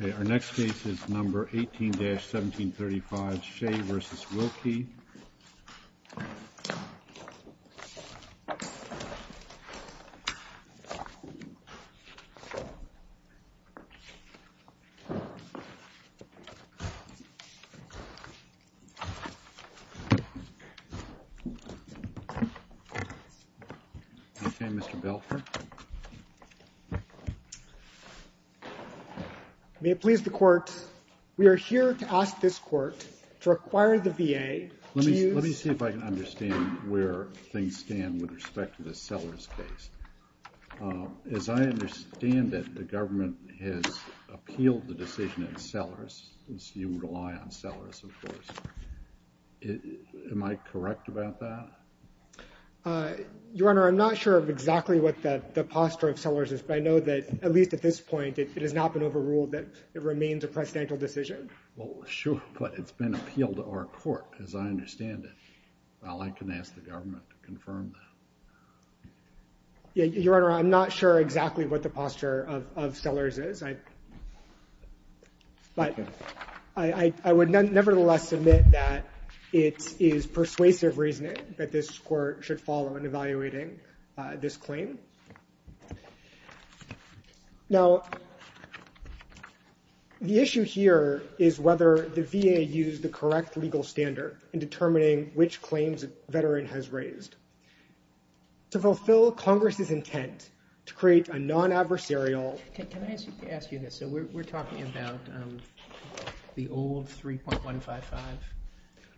Okay, our next case is number 18-1735, Shea v. Wilkie. Okay, Mr. Belfer. May it please the Court, we are here to ask this Court to require the VA to use... Let me see if I can understand where things stand with respect to the Sellers case. As I understand it, the government has appealed the decision at Sellers. You rely on Sellers, of course. Am I correct about that? Your Honor, I'm not sure of exactly what the posture of Sellers is, but I know that, at least at this point, it has not been overruled that it remains a presidential decision. Well, sure, but it's been appealed to our Court, as I understand it. Well, I can ask the government to confirm that. Your Honor, I'm not sure exactly what the posture of Sellers is. I would nevertheless submit that it is persuasive reasoning that this Court should follow in evaluating this claim. Now, the issue here is whether the VA used the correct legal standard in determining which claims a veteran has raised. To fulfill Congress's intent to create a non-adversarial... Can I ask you this? So we're talking about the old 3.155?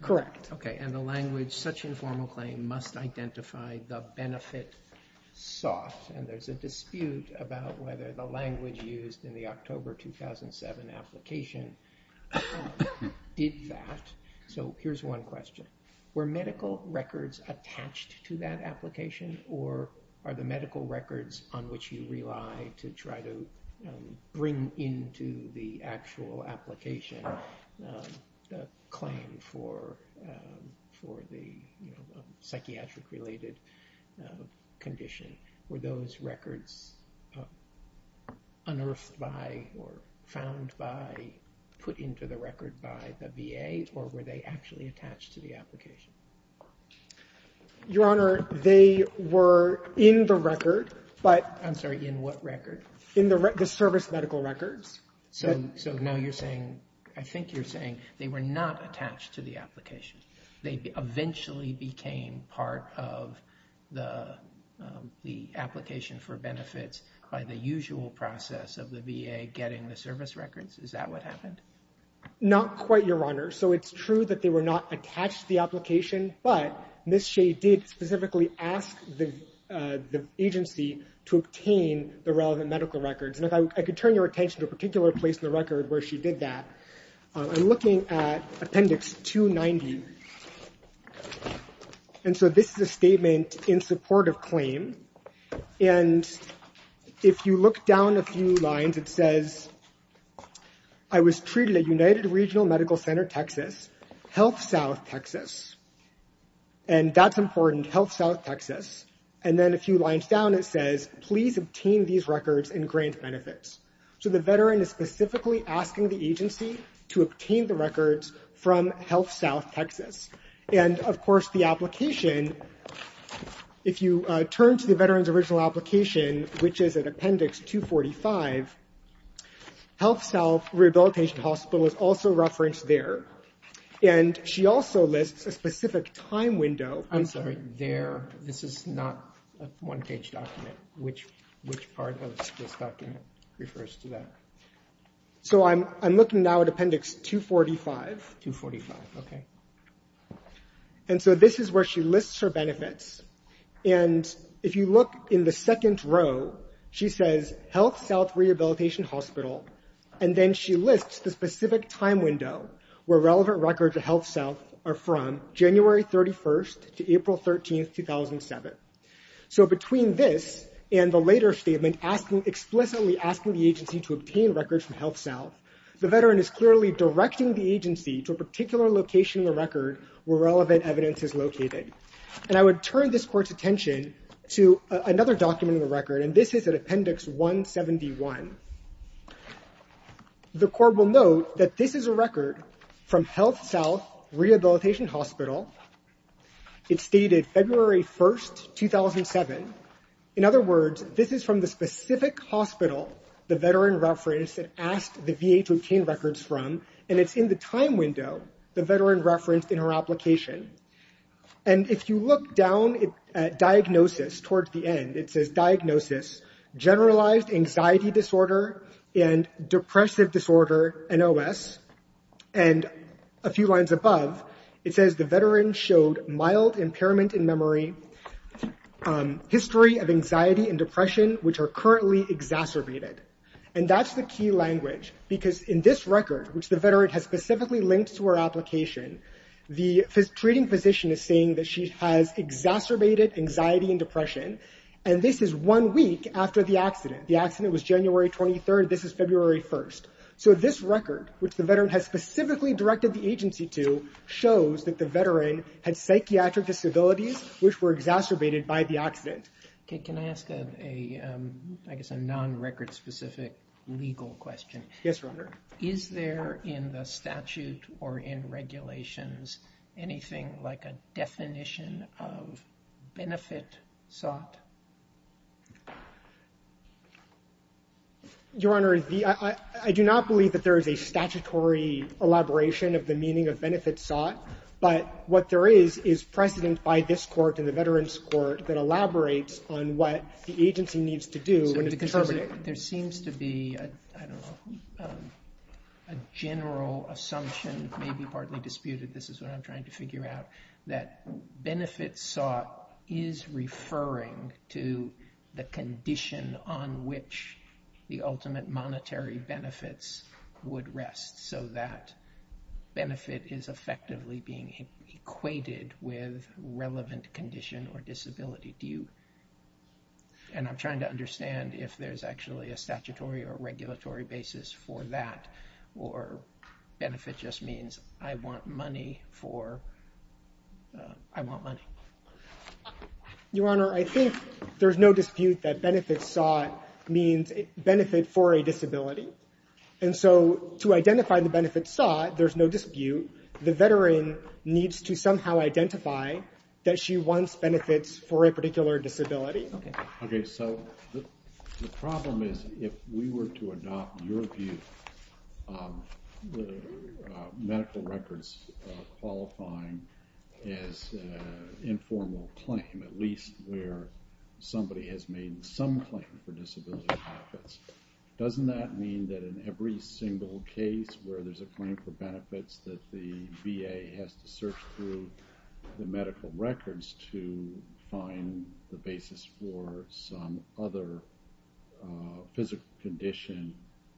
Correct. Okay, and the language, such informal claim must identify the benefit sought. And there's a dispute about whether the language used in the October 2007 application did that. So here's one question. Were medical records attached to that application, or are the medical records on which you rely to try to bring into the actual application the claim for the psychiatric-related condition, were those records unearthed by or found by, put into the record by the VA, or were they actually attached to the application? Your Honor, they were in the record, but... I'm sorry, in what record? In the service medical records. So now you're saying, I think you're saying they were not attached to the application. They eventually became part of the application for benefits by the usual process of the VA getting the service records? Is that what happened? Not quite, Your Honor. So it's true that they were not attached to the application, but Ms. Shea did specifically ask the agency to obtain the relevant medical records. And if I could turn your attention to a particular place in the record where she did that. I'm looking at Appendix 290. And so this is a statement in support of claim. And if you look down a few lines, it says, I was treated at United Regional Medical Center, Texas, HealthSouth, Texas. And that's important, HealthSouth, Texas. And then a few lines down, it says, please obtain these records and grant benefits. So the veteran is specifically asking the agency to obtain the records from HealthSouth, Texas. And, of course, the application, if you turn to the veteran's original application, which is at Appendix 245, HealthSouth Rehabilitation Hospital is also referenced there. And she also lists a specific time window. I'm sorry, this is not a one page document. Which part of this document refers to that? So I'm looking now at Appendix 245. And so this is where she lists her benefits. And if you look in the second row, she says, HealthSouth Rehabilitation Hospital. And then she lists the specific time window where relevant records of HealthSouth are from January 31st to April 13th, 2007. So between this and the later statement explicitly asking the agency to obtain records from HealthSouth, the veteran is clearly directing the agency to a particular location in the record where relevant evidence is located. And I would turn this court's attention to another document in the record. And this is at Appendix 171. The court will note that this is a record from HealthSouth Rehabilitation Hospital. It's dated February 1st, 2007. In other words, this is from the specific hospital the veteran referenced and asked the VA to obtain records from. And it's in the time window the veteran referenced in her application. And if you look down at Diagnosis towards the end, it says, Diagnosis, Generalized Anxiety Disorder and Depressive Disorder, NOS. And a few lines above, it says the veteran showed mild impairment in memory, history of anxiety and depression, which are currently exacerbated. And that's the key language, because in this record, which the veteran has specifically linked to her application, the treating physician is saying that she has exacerbated anxiety and depression. And this is one week after the accident. The accident was January 23rd. This is February 1st. So this record, which the veteran has specifically directed the agency to, shows that the veteran had psychiatric disabilities, which were exacerbated by the accident. Okay, can I ask a, I guess, a non-record-specific legal question? Yes, Your Honor. Is there in the statute or in regulations anything like a definition of benefit sought? Your Honor, I do not believe that there is a statutory elaboration of the meaning of benefit sought. But what there is is precedent by this court and the Veterans Court that elaborates on what the agency needs to do when it's determining. There seems to be, I don't know, a general assumption, maybe partly disputed, this is what I'm trying to figure out, that benefit sought is referring to the condition on which the ultimate monetary benefits would rest. So that benefit is effectively being equated with relevant condition or disability. And I'm trying to understand if there's actually a statutory or regulatory basis for that, or benefit just means I want money for, I want money. Your Honor, I think there's no dispute that benefit sought means benefit for a disability. And so to identify the benefit sought, there's no dispute. The veteran needs to somehow identify that she wants benefits for a particular disability. Okay, so the problem is if we were to adopt your view of medical records qualifying as informal claim, at least where somebody has made some claim for disability benefits, doesn't that mean that in every single case where there's a claim for benefits that the VA has to search through the medical records to find the basis for some other physical condition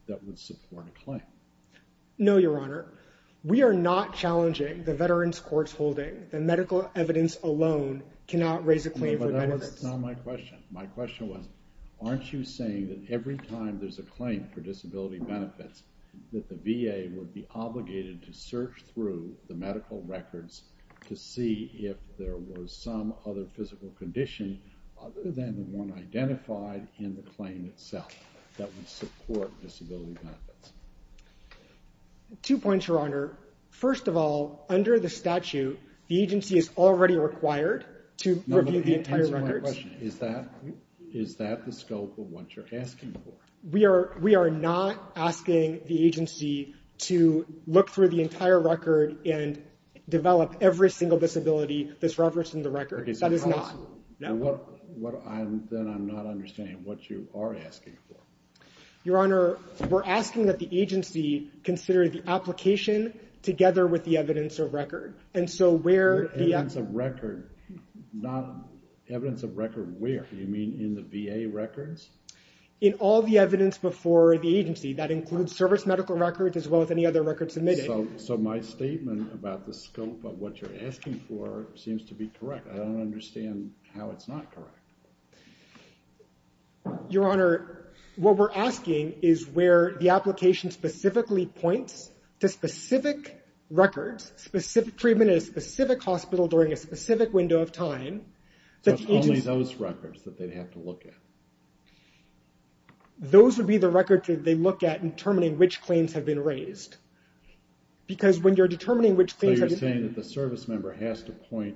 that would support a claim? No, Your Honor. We are not challenging the Veterans Court's holding. The medical evidence alone cannot raise a claim for benefits. That's not my question. My question was, aren't you saying that every time there's a claim for disability benefits, that the VA would be obligated to search through the medical records to see if there was some other physical condition other than the one identified in the claim itself that would support disability benefits? Two points, Your Honor. First of all, under the statute, the agency is already required to review the entire records. Is that the scope of what you're asking for? We are not asking the agency to look through the entire record and develop every single disability that's referenced in the record. That is not. Then I'm not understanding what you are asking for. Your Honor, we're asking that the agency consider the application together with the evidence of record. Evidence of record? Not evidence of record where? You mean in the VA records? In all the evidence before the agency. That includes service medical records as well as any other records submitted. So my statement about the scope of what you're asking for seems to be correct. I don't understand how it's not correct. Your Honor, what we're asking is where the application specifically points to specific records, treatment in a specific hospital during a specific window of time. So it's only those records that they'd have to look at? Those would be the records that they look at in determining which claims have been raised. Because when you're determining which claims... So you're saying that the service member has to point,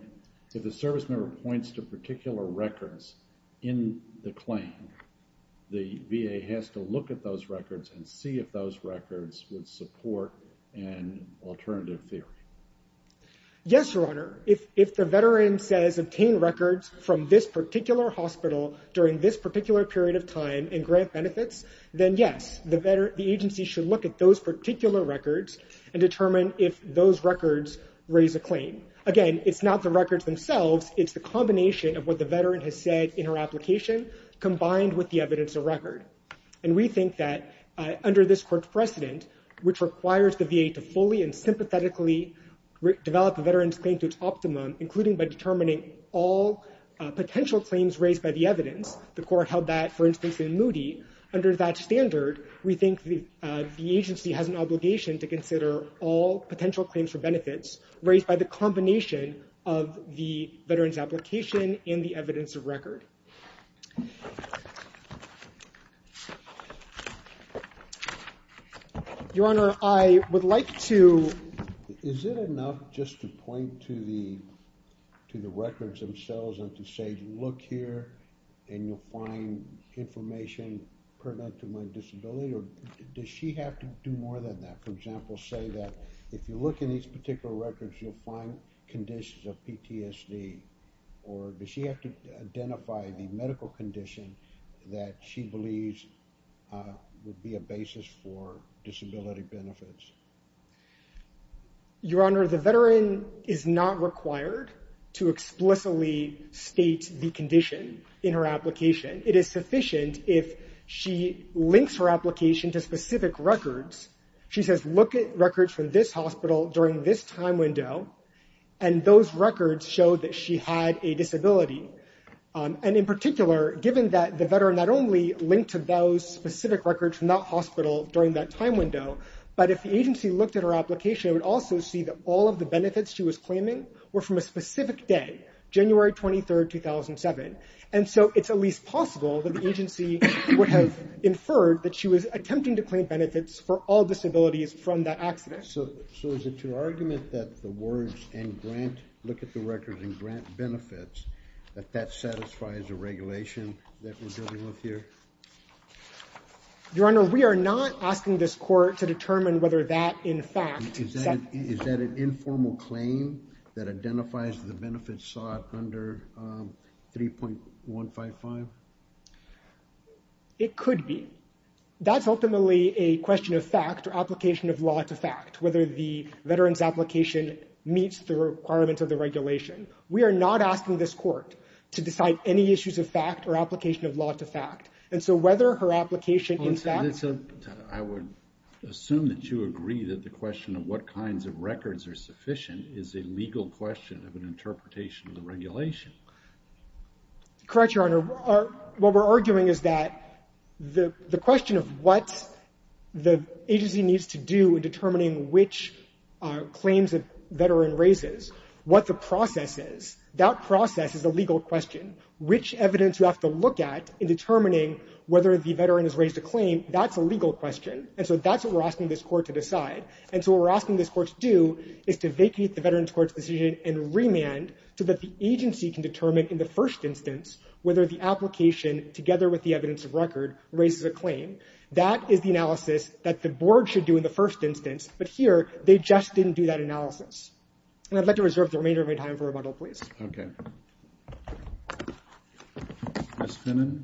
if the service member points to particular records in the claim, the VA has to look at those records and see if those records would support an alternative theory. Yes, Your Honor. If the veteran says obtain records from this particular hospital during this particular period of time and grant benefits, then yes, the agency should look at those particular records and determine if those records raise a claim. Again, it's not the records themselves. It's the combination of what the veteran has said in her application combined with the evidence of record. And we think that under this court precedent, which requires the VA to fully and sympathetically develop a veteran's claim to its optimum, including by determining all potential claims raised by the evidence, the court held that, for instance, in Moody, under that standard, we think the agency has an obligation to consider all potential claims for benefits raised by the combination of the veteran's application and the evidence of record. Your Honor, I would like to... point to the records themselves and to say, look here and you'll find information pertinent to my disability, or does she have to do more than that? For example, say that if you look in these particular records, you'll find conditions of PTSD, or does she have to identify the medical condition that she believes would be a basis for disability benefits? Your Honor, the veteran is not required to explicitly state the condition in her application. It is sufficient if she links her application to specific records. She says, look at records from this hospital during this time window, and those records show that she had a disability. And in particular, given that the veteran not only linked to those specific records from that hospital during that time window, but if the agency looked at her application, it would also see that all of the benefits she was claiming were from a specific day, January 23, 2007. And so it's at least possible that the agency would have inferred that she was attempting to claim benefits for all disabilities from that accident. So is it your argument that the words, and grant, look at the records and grant benefits, that that satisfies the regulation that we're dealing with here? Your Honor, we are not asking this court to determine whether that, in fact- Is that an informal claim that identifies the benefits sought under 3.155? It could be. That's ultimately a question of fact or application of law to fact, whether the veteran's application meets the requirements of the regulation. We are not asking this court to decide any issues of fact or application of law to fact. And so whether her application in fact- I would assume that you agree that the question of what kinds of records are sufficient is a legal question of an interpretation of the regulation. Correct, Your Honor. What we're arguing is that the question of what the agency needs to do in determining which claims a veteran raises, what the process is, that process is a legal question. Which evidence you have to look at in determining whether the veteran has raised a claim, that's a legal question. And so that's what we're asking this court to decide. And so what we're asking this court to do is to vacate the veteran's court's decision and remand so that the agency can determine in the first instance whether the application, together with the evidence of record, raises a claim. That is the analysis that the board should do in the first instance. But here, they just didn't do that analysis. And I'd like to reserve the remainder of my time for rebuttal, please. Okay. Ms. Finnan?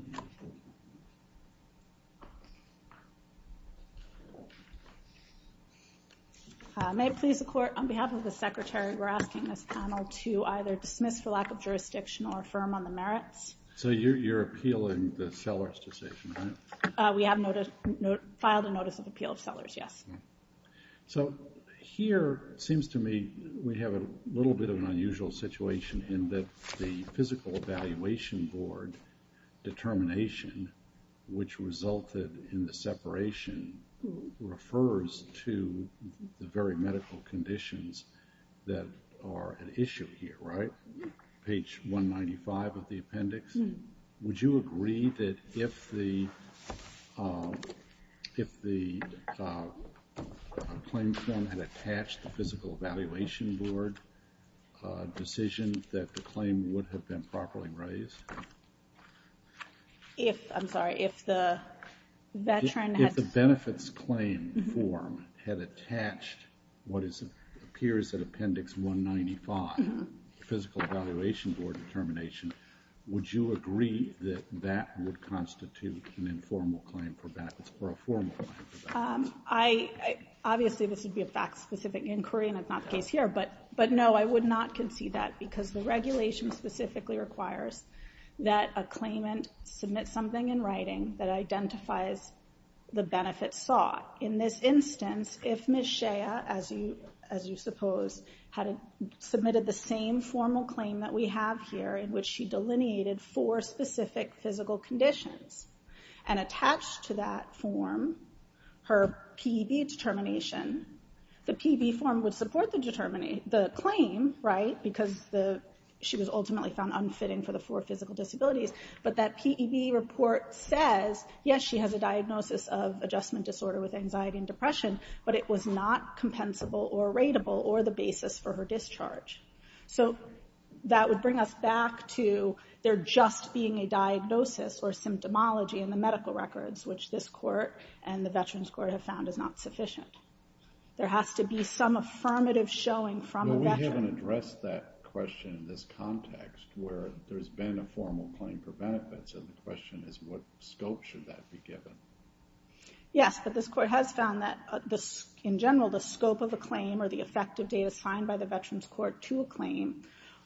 May it please the court, on behalf of the Secretary, we're asking this panel to either dismiss for lack of jurisdiction or affirm on the merits. So you're appealing the sellers' decision, right? We have filed a notice of appeal of sellers, yes. So here, it seems to me we have a little bit of an unusual situation in that the physical evaluation board determination, which resulted in the separation, refers to the very medical conditions that are at issue here, right? Page 195 of the appendix. Would you agree that if the claim form had attached the physical evaluation board decision, that the claim would have been properly raised? If, I'm sorry, if the veteran had- appears at appendix 195, physical evaluation board determination, would you agree that that would constitute an informal claim for battles, or a formal claim for battles? Obviously, this would be a fact-specific inquiry, and it's not the case here. But no, I would not concede that, because the regulation specifically requires that a claimant submit something in writing that identifies the benefits sought. In this instance, if Ms. Shea, as you suppose, had submitted the same formal claim that we have here, in which she delineated four specific physical conditions, and attached to that form her P.E.B. determination, the P.E.B. form would support the claim, right? Because she was ultimately found unfitting for the four physical disabilities. But that P.E.B. report says, yes, she has a diagnosis of adjustment disorder with anxiety and depression, but it was not compensable or rateable, or the basis for her discharge. So, that would bring us back to there just being a diagnosis or symptomology in the medical records, which this court and the Veterans Court have found is not sufficient. There has to be some affirmative showing from a veteran. I haven't addressed that question in this context, where there's been a formal claim for benefits, and the question is, what scope should that be given? Yes, but this court has found that, in general, the scope of a claim, or the effective date assigned by the Veterans Court to a claim,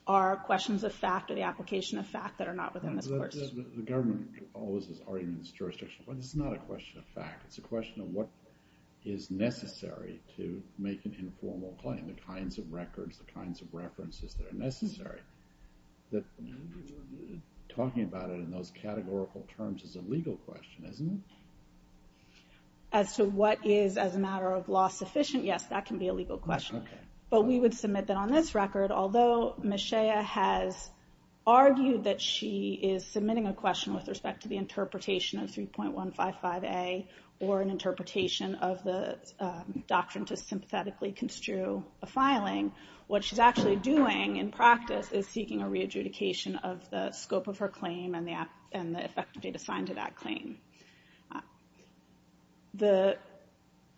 are questions of fact, or the application of fact, that are not within this course. The government always has arguments, jurisdictions, but it's not a question of fact. It's a question of what is necessary to make an informal claim, the kinds of records, the kinds of references that are necessary. Talking about it in those categorical terms is a legal question, isn't it? As to what is, as a matter of law, sufficient, yes, that can be a legal question. But we would submit that on this record, although Ms. Shea has argued that she is submitting a question with respect to the interpretation of 3.155A, or an interpretation of the doctrine to sympathetically construe a filing, what she's actually doing, in practice, is seeking a re-adjudication of the scope of her claim, and the effective date assigned to that claim. The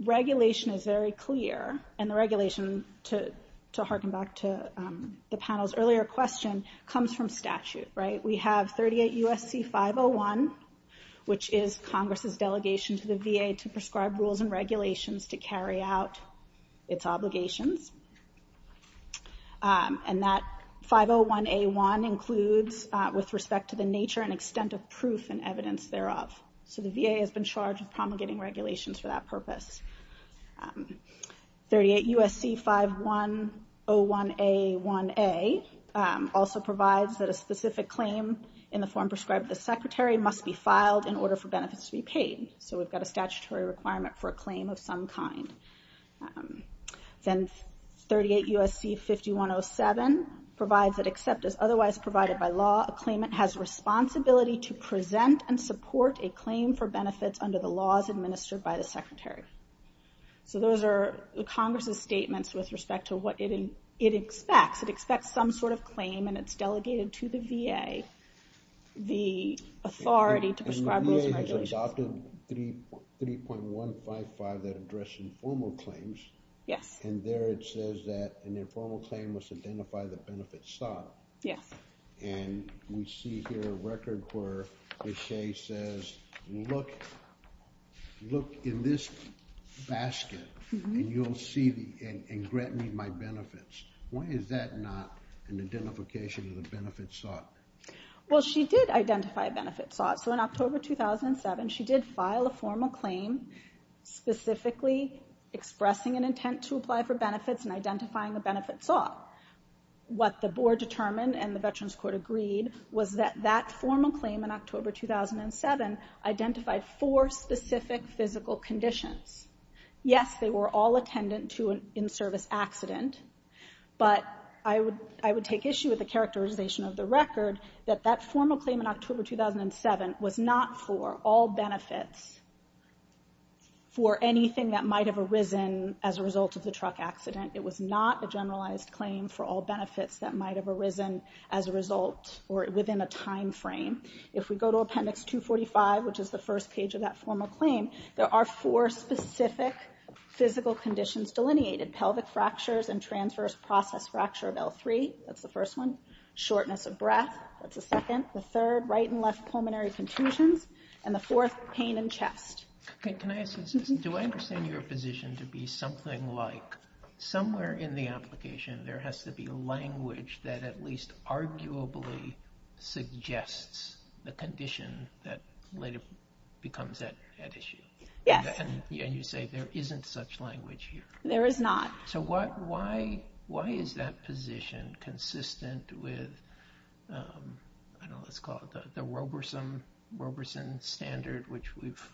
regulation is very clear, and the regulation, to harken back to the panel's earlier question, comes from statute. We have 38 U.S.C. 501, which is Congress's delegation to the VA to prescribe rules and regulations to carry out its obligations. And that 501A1 includes, with respect to the nature and extent of proof and evidence thereof. So the VA has been charged with promulgating regulations for that purpose. 38 U.S.C. 5101A1A also provides that a specific claim in the form prescribed by the Secretary must be filed in order for benefits to be paid. So we've got a statutory requirement for a claim of some kind. Then 38 U.S.C. 5107 provides that except as otherwise provided by law, a claimant has responsibility to present and support a claim for benefits under the laws administered by the Secretary. So those are Congress's statements with respect to what it expects. It expects some sort of claim, and it's delegated to the VA, the authority to prescribe rules and regulations. We adopted 3.155 that addressed informal claims. Yes. And there it says that an informal claim must identify the benefits sought. Yes. And we see here a record where it says, look in this basket and grant me my benefits. Why is that not an identification of the benefits sought? Well, she did identify benefits sought. So in October 2007, she did file a formal claim specifically expressing an intent to apply for benefits and identifying the benefits sought. What the board determined and the Veterans Court agreed was that that formal claim in October 2007 identified four specific physical conditions. Yes, they were all attendant to an in-service accident. But I would take issue with the characterization of the record that that formal claim in October 2007 was not for all benefits, for anything that might have arisen as a result of the truck accident. It was not a generalized claim for all benefits that might have arisen as a result or within a timeframe. If we go to Appendix 245, which is the first page of that formal claim, there are four specific physical conditions delineated. Pelvic fractures and transverse process fracture of L3. That's the first one. Shortness of breath. That's the second. The third, right and left pulmonary contusions. And the fourth, pain in chest. Can I ask, do I understand your position to be something like somewhere in the application, there has to be language that at least arguably suggests the condition that later becomes at issue? Yes. And you say there isn't such language here. There is not. So why is that position consistent with, I don't know, let's call it the Roberson standard, which we've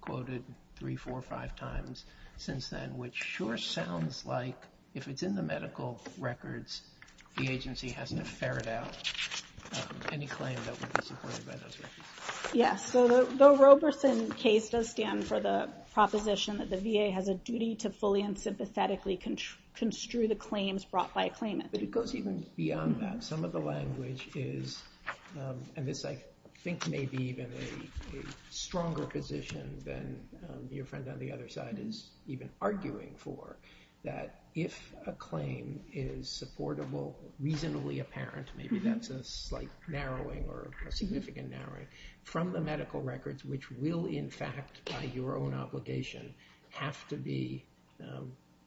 quoted three, four, five times since then, which sure sounds like if it's in the medical records, the agency has to ferret out any claim that would be supported by those records. Yes. So the Roberson case does stand for the proposition that the VA has a duty to fully and sympathetically construe the claims brought by a claimant. But it goes even beyond that. Some of the language is, and this I think may be even a stronger position than your friend on the other side is even arguing for, that if a claim is supportable, reasonably apparent, maybe that's a slight narrowing or a significant narrowing from the medical records, which will in fact by your own obligation have to be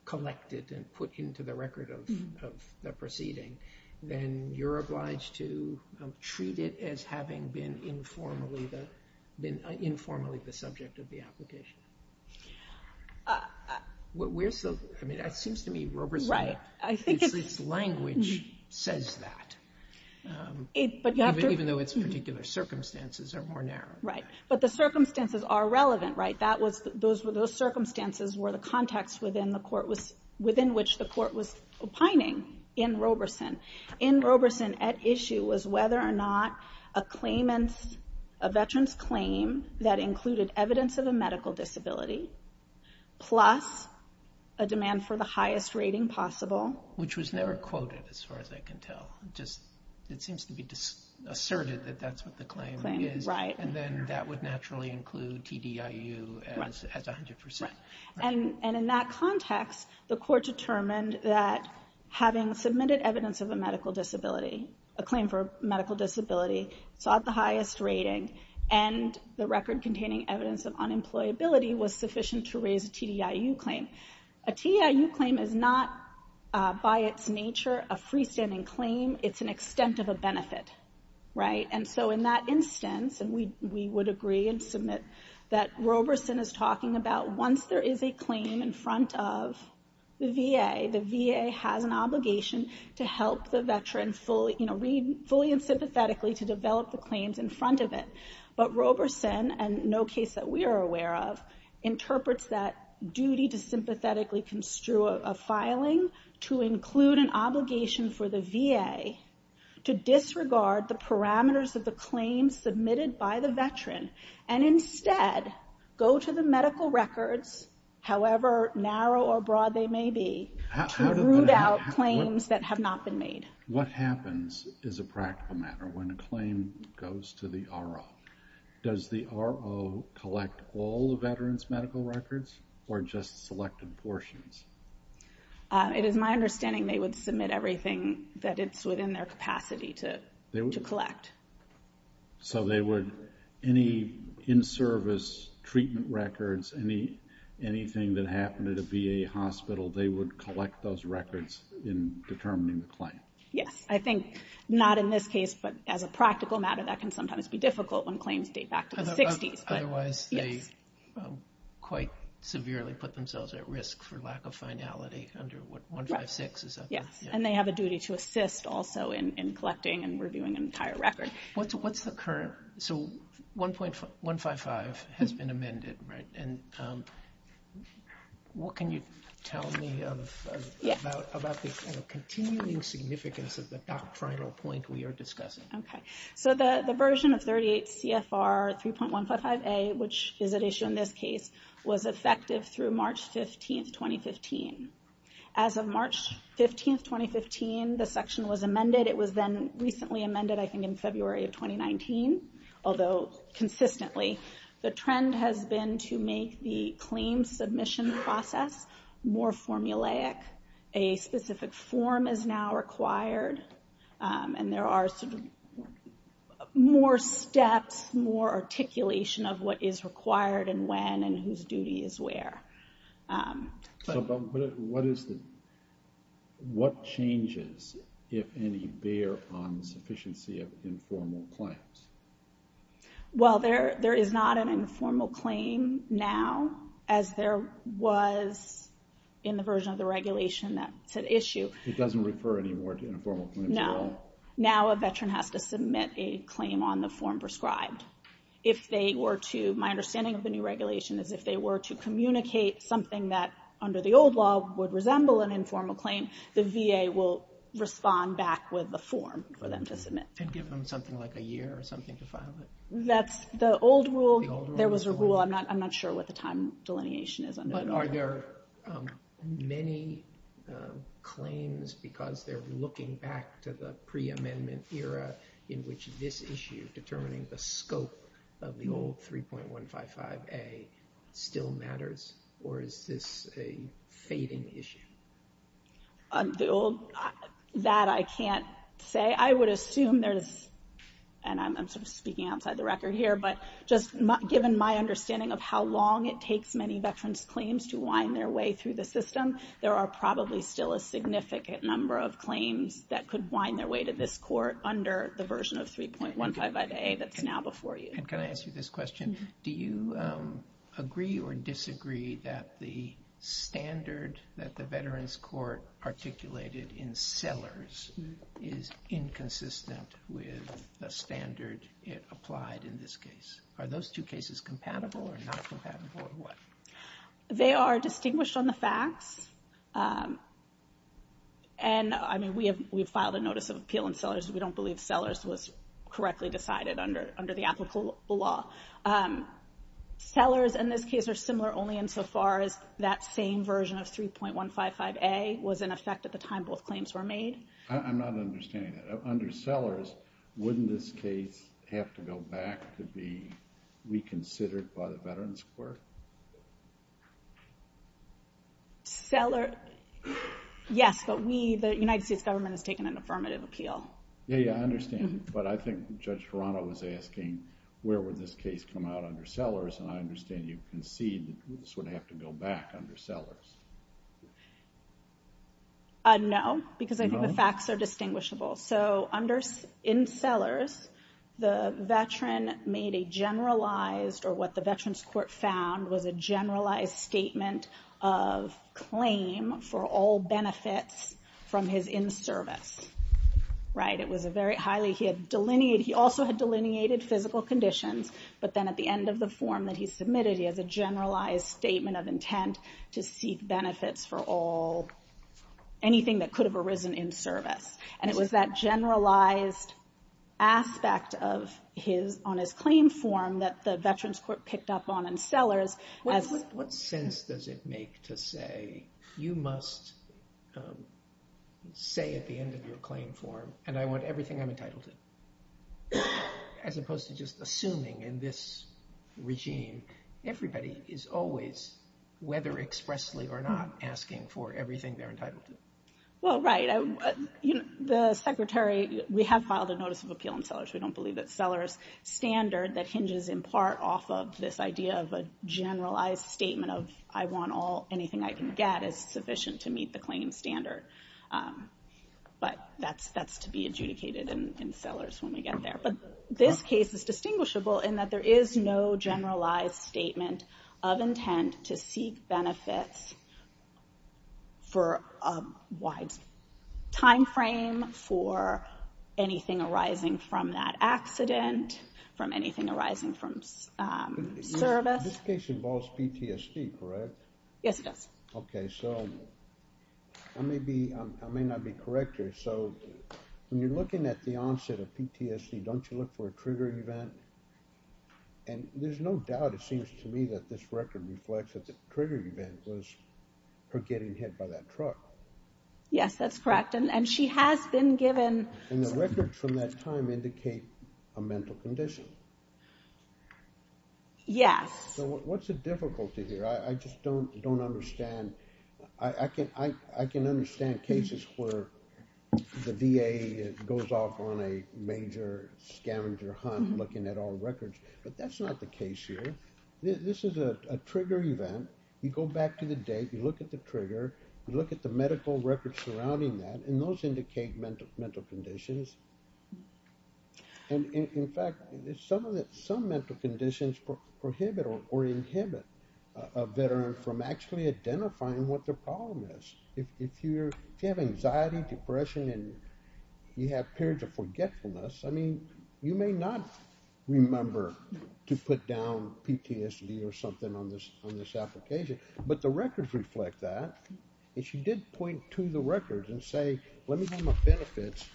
collected and put into the record of the proceeding, then you're obliged to treat it as having been informally the subject of the application. It seems to me Roberson's language says that, even though its particular circumstances are more narrow. Right. But the circumstances are relevant, right? Those circumstances were the context within which the court was opining in Roberson. In Roberson at issue was whether or not a claimant's, a veteran's claim that included evidence of a medical disability, plus a demand for the highest rating possible. Which was never quoted as far as I can tell. It seems to be asserted that that's what the claim is. Right. And then that would naturally include TDIU as 100%. Right. And in that context, the court determined that having submitted evidence of a medical disability, a claim for medical disability sought the highest rating, and the record containing evidence of unemployability was sufficient to raise a TDIU claim. A TDIU claim is not by its nature a freestanding claim. It's an extent of a benefit, right? And so in that instance, and we would agree and submit, that Roberson is talking about once there is a claim in front of the VA, the VA has an obligation to help the veteran fully and sympathetically to develop the claims in front of it. But Roberson, and no case that we are aware of, interprets that duty to sympathetically construe a filing to include an obligation for the VA to disregard the parameters of the claim submitted by the veteran, and instead go to the medical records, however narrow or broad they may be, to root out claims that have not been made. What happens is a practical matter when a claim goes to the RO. Does the RO collect all the veteran's medical records, or just selected portions? It is my understanding they would submit everything that it's within their capacity to collect. So they would, any in-service treatment records, anything that happened at a VA hospital, they would collect those records in determining the claim? Yes. I think not in this case, but as a practical matter, that can sometimes be difficult when claims date back to the 60s. Otherwise they quite severely put themselves at risk for lack of finality under 156. Yes, and they have a duty to assist also in collecting and reviewing an entire record. What's the current, so 1.155 has been amended, right? And what can you tell me about the continuing significance of the doctrinal point we are discussing? Okay, so the version of 38 CFR 3.155A, which is at issue in this case, was effective through March 15th, 2015. As of March 15th, 2015, the section was amended. It was then recently amended, I think in February of 2019, although consistently. The trend has been to make the claim submission process more formulaic. A specific form is now required, and there are more steps, more articulation of what is required and when and whose duty is where. What changes, if any, bear on the sufficiency of informal claims? Well, there is not an informal claim now, as there was in the version of the regulation that's at issue. It doesn't refer anymore to informal claims at all? No, now a veteran has to submit a claim on the form prescribed. My understanding of the new regulation is if they were to communicate something that under the old law would resemble an informal claim, the VA will respond back with the form for them to submit. And give them something like a year or something to file it? That's the old rule. There was a rule. I'm not sure what the time delineation is. But are there many claims because they're looking back to the pre-amendment era in which this issue determining the scope of the old 3.155A still matters, or is this a fading issue? That I can't say. I would assume there's, and I'm sort of speaking outside the record here, but just given my understanding of how long it takes many veterans' claims to wind their way through the system, there are probably still a significant number of claims that could wind their way to this court under the version of 3.155A that's now before you. And can I ask you this question? Do you agree or disagree that the standard that the Veterans Court articulated in Sellers is inconsistent with the standard it applied in this case? Are those two cases compatible or not compatible, or what? They are distinguished on the facts. And, I mean, we have filed a notice of appeal in Sellers. We don't believe Sellers was correctly decided under the applicable law. Sellers and this case are similar only insofar as that same version of 3.155A was in effect at the time both claims were made. I'm not understanding that. Under Sellers, wouldn't this case have to go back to be reconsidered by the Veterans Court? Sellers, yes, but the United States government has taken an affirmative appeal. Yeah, yeah, I understand. But I think Judge Ferrano was asking where would this case come out under Sellers, and I understand you concede that this would have to go back under Sellers. No, because I think the facts are distinguishable. So in Sellers, the veteran made a generalized, or what the Veterans Court found was a generalized statement of claim for all benefits from his in-service, right? It was a very highly, he had delineated, he also had delineated physical conditions, but then at the end of the form that he submitted, he has a generalized statement of intent to seek benefits for all, anything that could have arisen in service. And it was that generalized aspect on his claim form that the Veterans Court picked up on in Sellers. What sense does it make to say, you must say at the end of your claim form, and I want everything I'm entitled to, as opposed to just assuming in this regime, everybody is always, whether expressly or not, asking for everything they're entitled to. Well, right. The Secretary, we have filed a notice of appeal in Sellers. We don't believe that Sellers standard, that hinges in part off of this idea of a generalized statement of, I want all, anything I can get, is sufficient to meet the claim standard. But that's to be adjudicated in Sellers when we get there. But this case is distinguishable in that there is no generalized statement of intent to seek benefits for a wide time frame for anything arising from that accident, from anything arising from service. This case involves PTSD, correct? Yes, it does. Okay, so I may not be correct here. So when you're looking at the onset of PTSD, don't you look for a trigger event? And there's no doubt, it seems to me, that this record reflects that the trigger event was her getting hit by that truck. Yes, that's correct. And she has been given... And the records from that time indicate a mental condition. Yes. So what's the difficulty here? I just don't understand. I can understand cases where the VA goes off on a major scavenger hunt looking at all records. But that's not the case here. This is a trigger event. You go back to the date, you look at the trigger, you look at the medical records surrounding that, and those indicate mental conditions. And, in fact, some mental conditions prohibit or inhibit a veteran from actually identifying what their problem is. If you have anxiety, depression, and you have periods of forgetfulness, I mean, you may not remember to put down PTSD or something on this application. But the records reflect that. And she did point to the records and say, let me know my benefits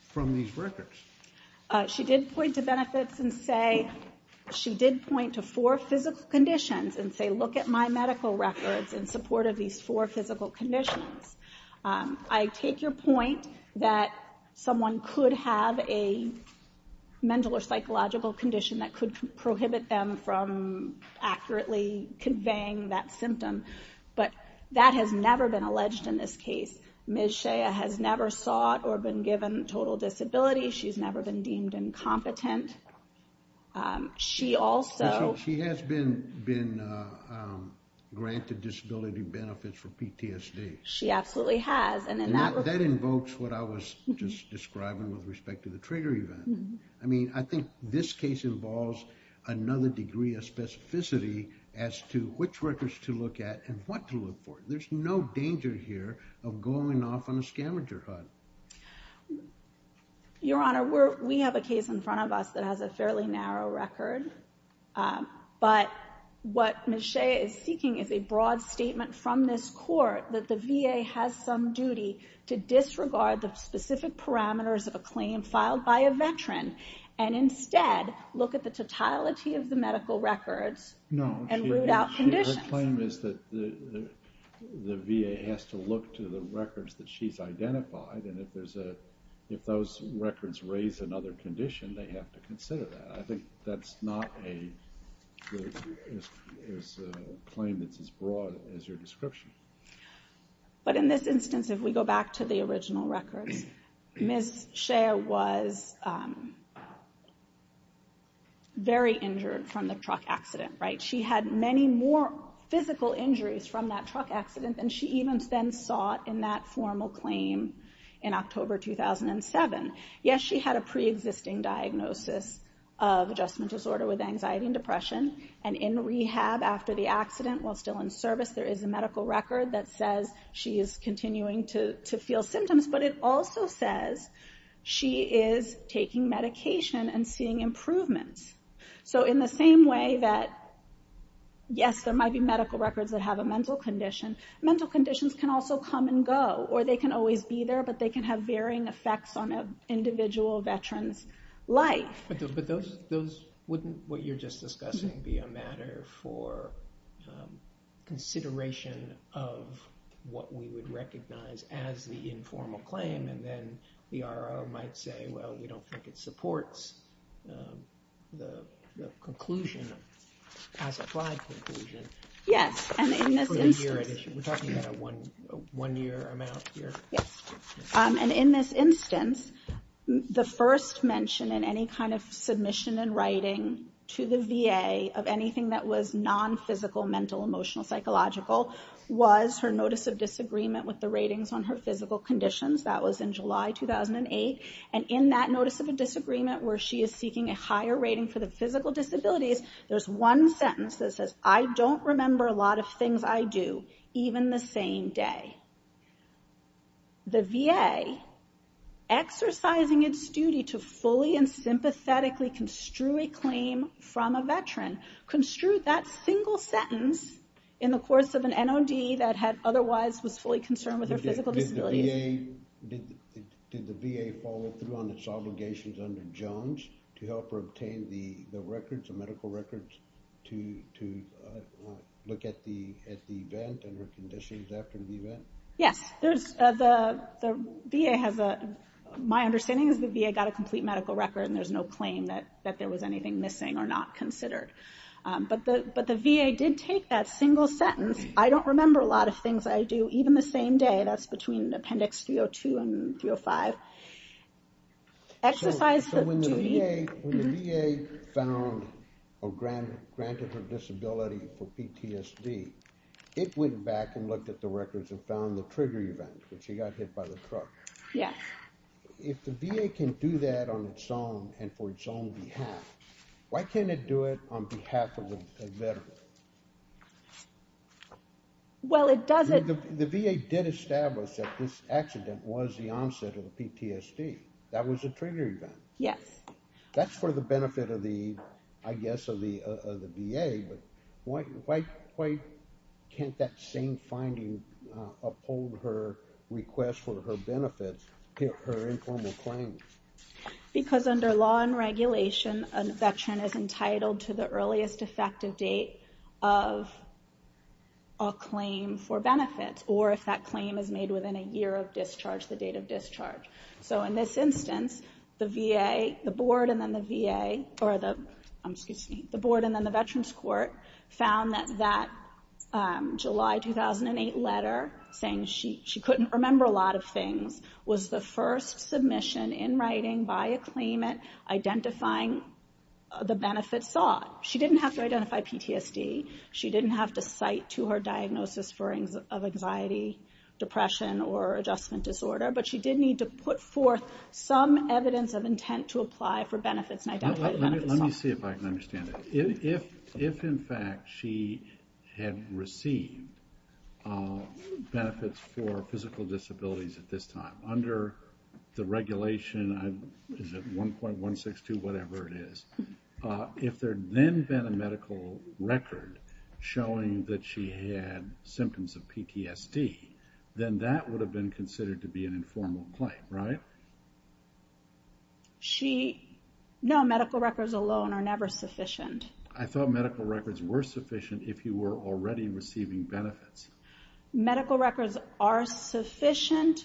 from these records. She did point to benefits and say... She did point to four physical conditions and say, look at my medical records in support of these four physical conditions. I take your point that someone could have a mental or psychological condition that could prohibit them from accurately conveying that symptom. But that has never been alleged in this case. Ms. Shea has never sought or been given total disability. She's never been deemed incompetent. She also... She has been granted disability benefits for PTSD. She absolutely has. That invokes what I was just describing with respect to the trigger event. I mean, I think this case involves another degree of specificity as to which records to look at and what to look for. There's no danger here of going off on a scavenger hunt. Your Honor, we have a case in front of us that has a fairly narrow record. But what Ms. Shea is seeking is a broad statement from this court that the VA has some duty to disregard the specific parameters of a claim filed by a veteran and instead look at the totality of the medical records and root out conditions. No, her claim is that the VA has to look to the records that she's identified, and if those records raise another condition, they have to consider that. I think that's not a claim that's as broad as your description. But in this instance, if we go back to the original records, Ms. Shea was very injured from the truck accident, right? She had many more physical injuries from that truck accident than she even then sought in that formal claim in October 2007. Yes, she had a preexisting diagnosis of adjustment disorder with anxiety and depression, and in rehab after the accident, while still in service, there is a medical record that says she is continuing to feel symptoms, but it also says she is taking medication and seeing improvements. So in the same way that, yes, there might be medical records that have a mental condition, mental conditions can also come and go, or they can always be there, but they can have varying effects on an individual veteran's life. But wouldn't what you're just discussing be a matter for consideration of what we would recognize as the informal claim, and then the RRO might say, well, we don't think it supports the conclusion, as-applied conclusion for the year edition? We're talking about a one-year amount here? Yes, and in this instance, the first mention in any kind of submission in writing to the VA of anything that was non-physical, mental, emotional, psychological, was her notice of disagreement with the ratings on her physical conditions. That was in July 2008, and in that notice of a disagreement where she is seeking a higher rating for the physical disabilities, there's one sentence that says, I don't remember a lot of things I do, even the same day. The VA, exercising its duty to fully and sympathetically construe a claim from a veteran, construed that single sentence in the course of an NOD that otherwise was fully concerned with her physical disabilities. Did the VA follow through on its obligations under Jones to help her obtain the records, the medical records to look at the event and her conditions after the event? Yes, the VA has a... My understanding is the VA got a complete medical record and there's no claim that there was anything missing or not considered. But the VA did take that single sentence, I don't remember a lot of things I do, even the same day, that's between Appendix 302 and 305. Exercise the duty... So when the VA found or granted her disability for PTSD, it went back and looked at the records and found the trigger event, when she got hit by the truck. Yeah. If the VA can do that on its own and for its own behalf, why can't it do it on behalf of a veteran? Well, it doesn't... The VA did establish that this accident was the onset of the PTSD. That was a trigger event. Yes. That's for the benefit of the, I guess, of the VA, but why can't that same finding uphold her request for her benefits, her informal claims? Because under law and regulation, a veteran is entitled to the earliest effective date of a claim for benefits or if that claim is made within a year of discharge, the date of discharge. So in this instance, the VA, the board and then the VA, or the, excuse me, the board and then the Veterans Court found that that July 2008 letter, saying she couldn't remember a lot of things, was the first submission in writing by a claimant identifying the benefits sought. She didn't have to identify PTSD. She didn't have to cite to her diagnosis for anxiety, depression, or adjustment disorder, but she did need to put forth some evidence of intent to apply for benefits and identify the benefits sought. Let me see if I can understand that. If, in fact, she had received benefits for physical disabilities at this time, under the regulation, is it 1.162, whatever it is, if there had then been a medical record showing that she had symptoms of PTSD, then that would have been considered to be an informal claim, right? She, no, medical records alone are never sufficient. I thought medical records were sufficient if you were already receiving benefits. Medical records are sufficient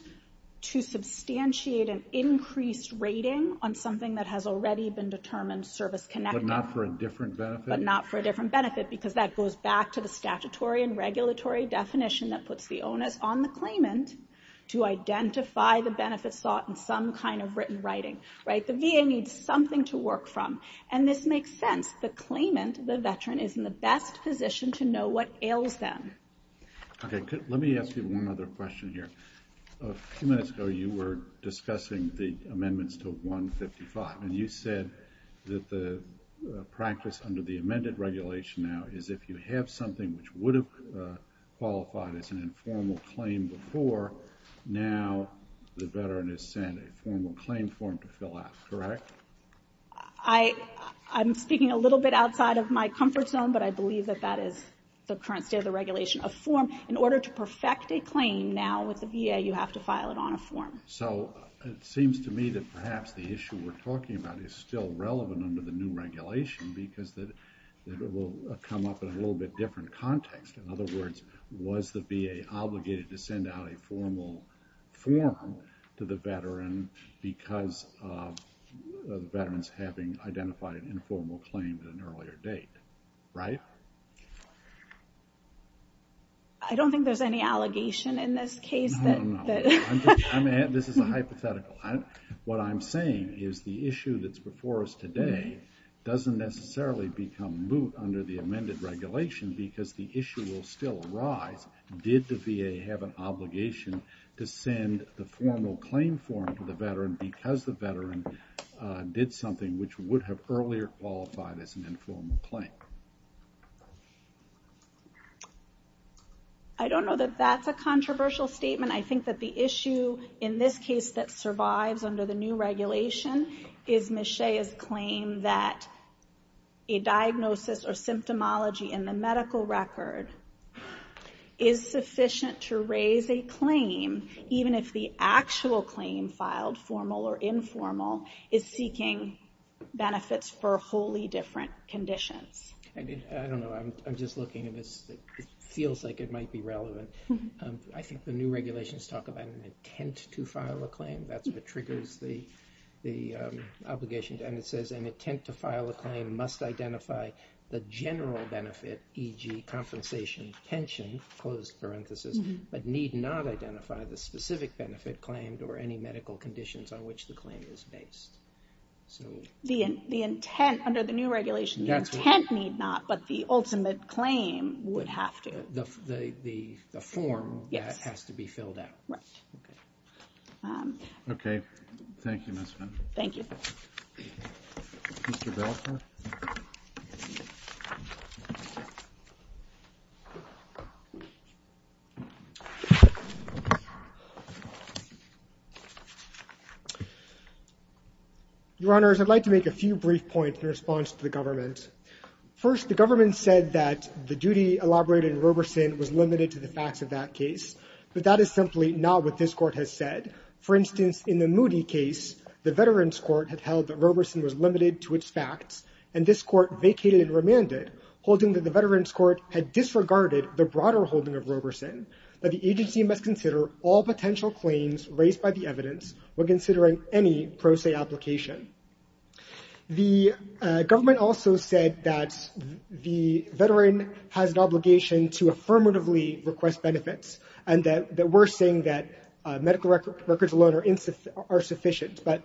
to substantiate an increased rating on something that has already been determined service-connected. But not for a different benefit? But not for a different benefit because that goes back to the statutory and regulatory definition that puts the onus on the claimant to identify the benefits sought in some kind of written writing, right? The VA needs something to work from, and this makes sense. The claimant, the veteran, is in the best position to know what ails them. Okay, let me ask you one other question here. A few minutes ago, you were discussing the amendments to 155, and you said that the practice under the amended regulation now is if you have something which would have qualified as an informal claim before, now the veteran is sent a formal claim form to fill out, correct? I'm speaking a little bit outside of my comfort zone, but I believe that that is the current state of the regulation of form. In order to perfect a claim now with the VA, you have to file it on a form. So it seems to me that perhaps the issue we're talking about is still relevant under the new regulation because it will come up in a little bit different context. In other words, was the VA obligated to send out a formal form to the veteran because the veteran's having identified an informal claim at an earlier date, right? I don't think there's any allegation in this case. No, no, no. This is a hypothetical. What I'm saying is the issue that's before us today doesn't necessarily become moot under the amended regulation because the issue will still arise. Did the VA have an obligation to send the formal claim form to the veteran because the veteran did something which would have earlier qualified as an informal claim? I don't know that that's a controversial statement. I think that the issue in this case that survives under the new regulation is Ms. Shea's claim that a diagnosis or symptomology in the medical record is sufficient to raise a claim even if the actual claim filed, formal or informal, is seeking benefits for wholly different conditions. I don't know. I'm just looking at this. It feels like it might be relevant. I think the new regulations talk about an intent to file a claim. That's what triggers the obligation. And it says an intent to file a claim must identify the general benefit, e.g., compensation, pension, closed parenthesis, but need not identify the specific benefit claimed or any medical conditions on which the claim is based. The intent under the new regulation, the intent need not, but the ultimate claim would have to. The form has to be filled out. Right. Okay. Thank you, Ms. Fenn. Thank you. Mr. Belfer. Your Honors, I'd like to make a few brief points in response to the government. First, the government said that the duty elaborated in Roberson was limited to the facts of that case, but that is simply not what this court has said. For instance, in the Moody case, the Veterans Court had held that Roberson was limited to its facts, and this court vacated and remanded, holding that the Veterans Court had disregarded the broader holding of Roberson, but the agency must consider all potential claims raised by the evidence when considering any pro se application. The government also said that the veteran has an obligation to affirmatively request benefits, and that we're saying that medical records alone are sufficient, but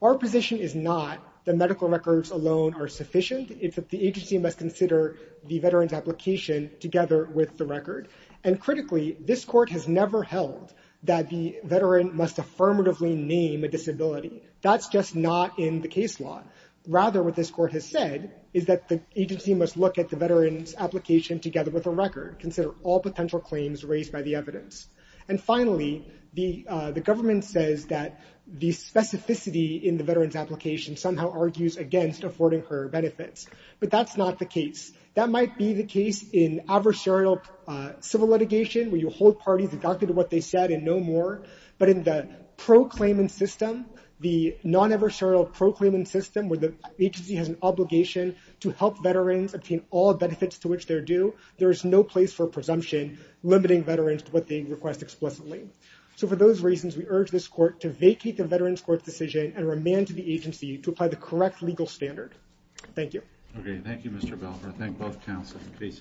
our position is not that medical records alone are sufficient. It's that the agency must consider the veteran's application together with the record. And critically, this court has never held that the veteran must affirmatively name a disability. That's just not in the case law. Rather, what this court has said is that the agency must look at the veteran's application together with the record, consider all potential claims raised by the evidence. And finally, the government says that the specificity in the veteran's application somehow argues against affording her benefits, but that's not the case. That might be the case in adversarial civil litigation, where you hold parties to what they said and no more, but in the pro-claimant system, the non-adversarial pro-claimant system, where the agency has an obligation to help veterans obtain all benefits to which they're due, there is no place for presumption in limiting veterans to what they request explicitly. So for those reasons, we urge this court to vacate the Veterans Court's decision and remand to the agency to apply the correct legal standard. Thank you. Okay, thank you, Mr. Belfer. I thank both counsels. The case is submitted.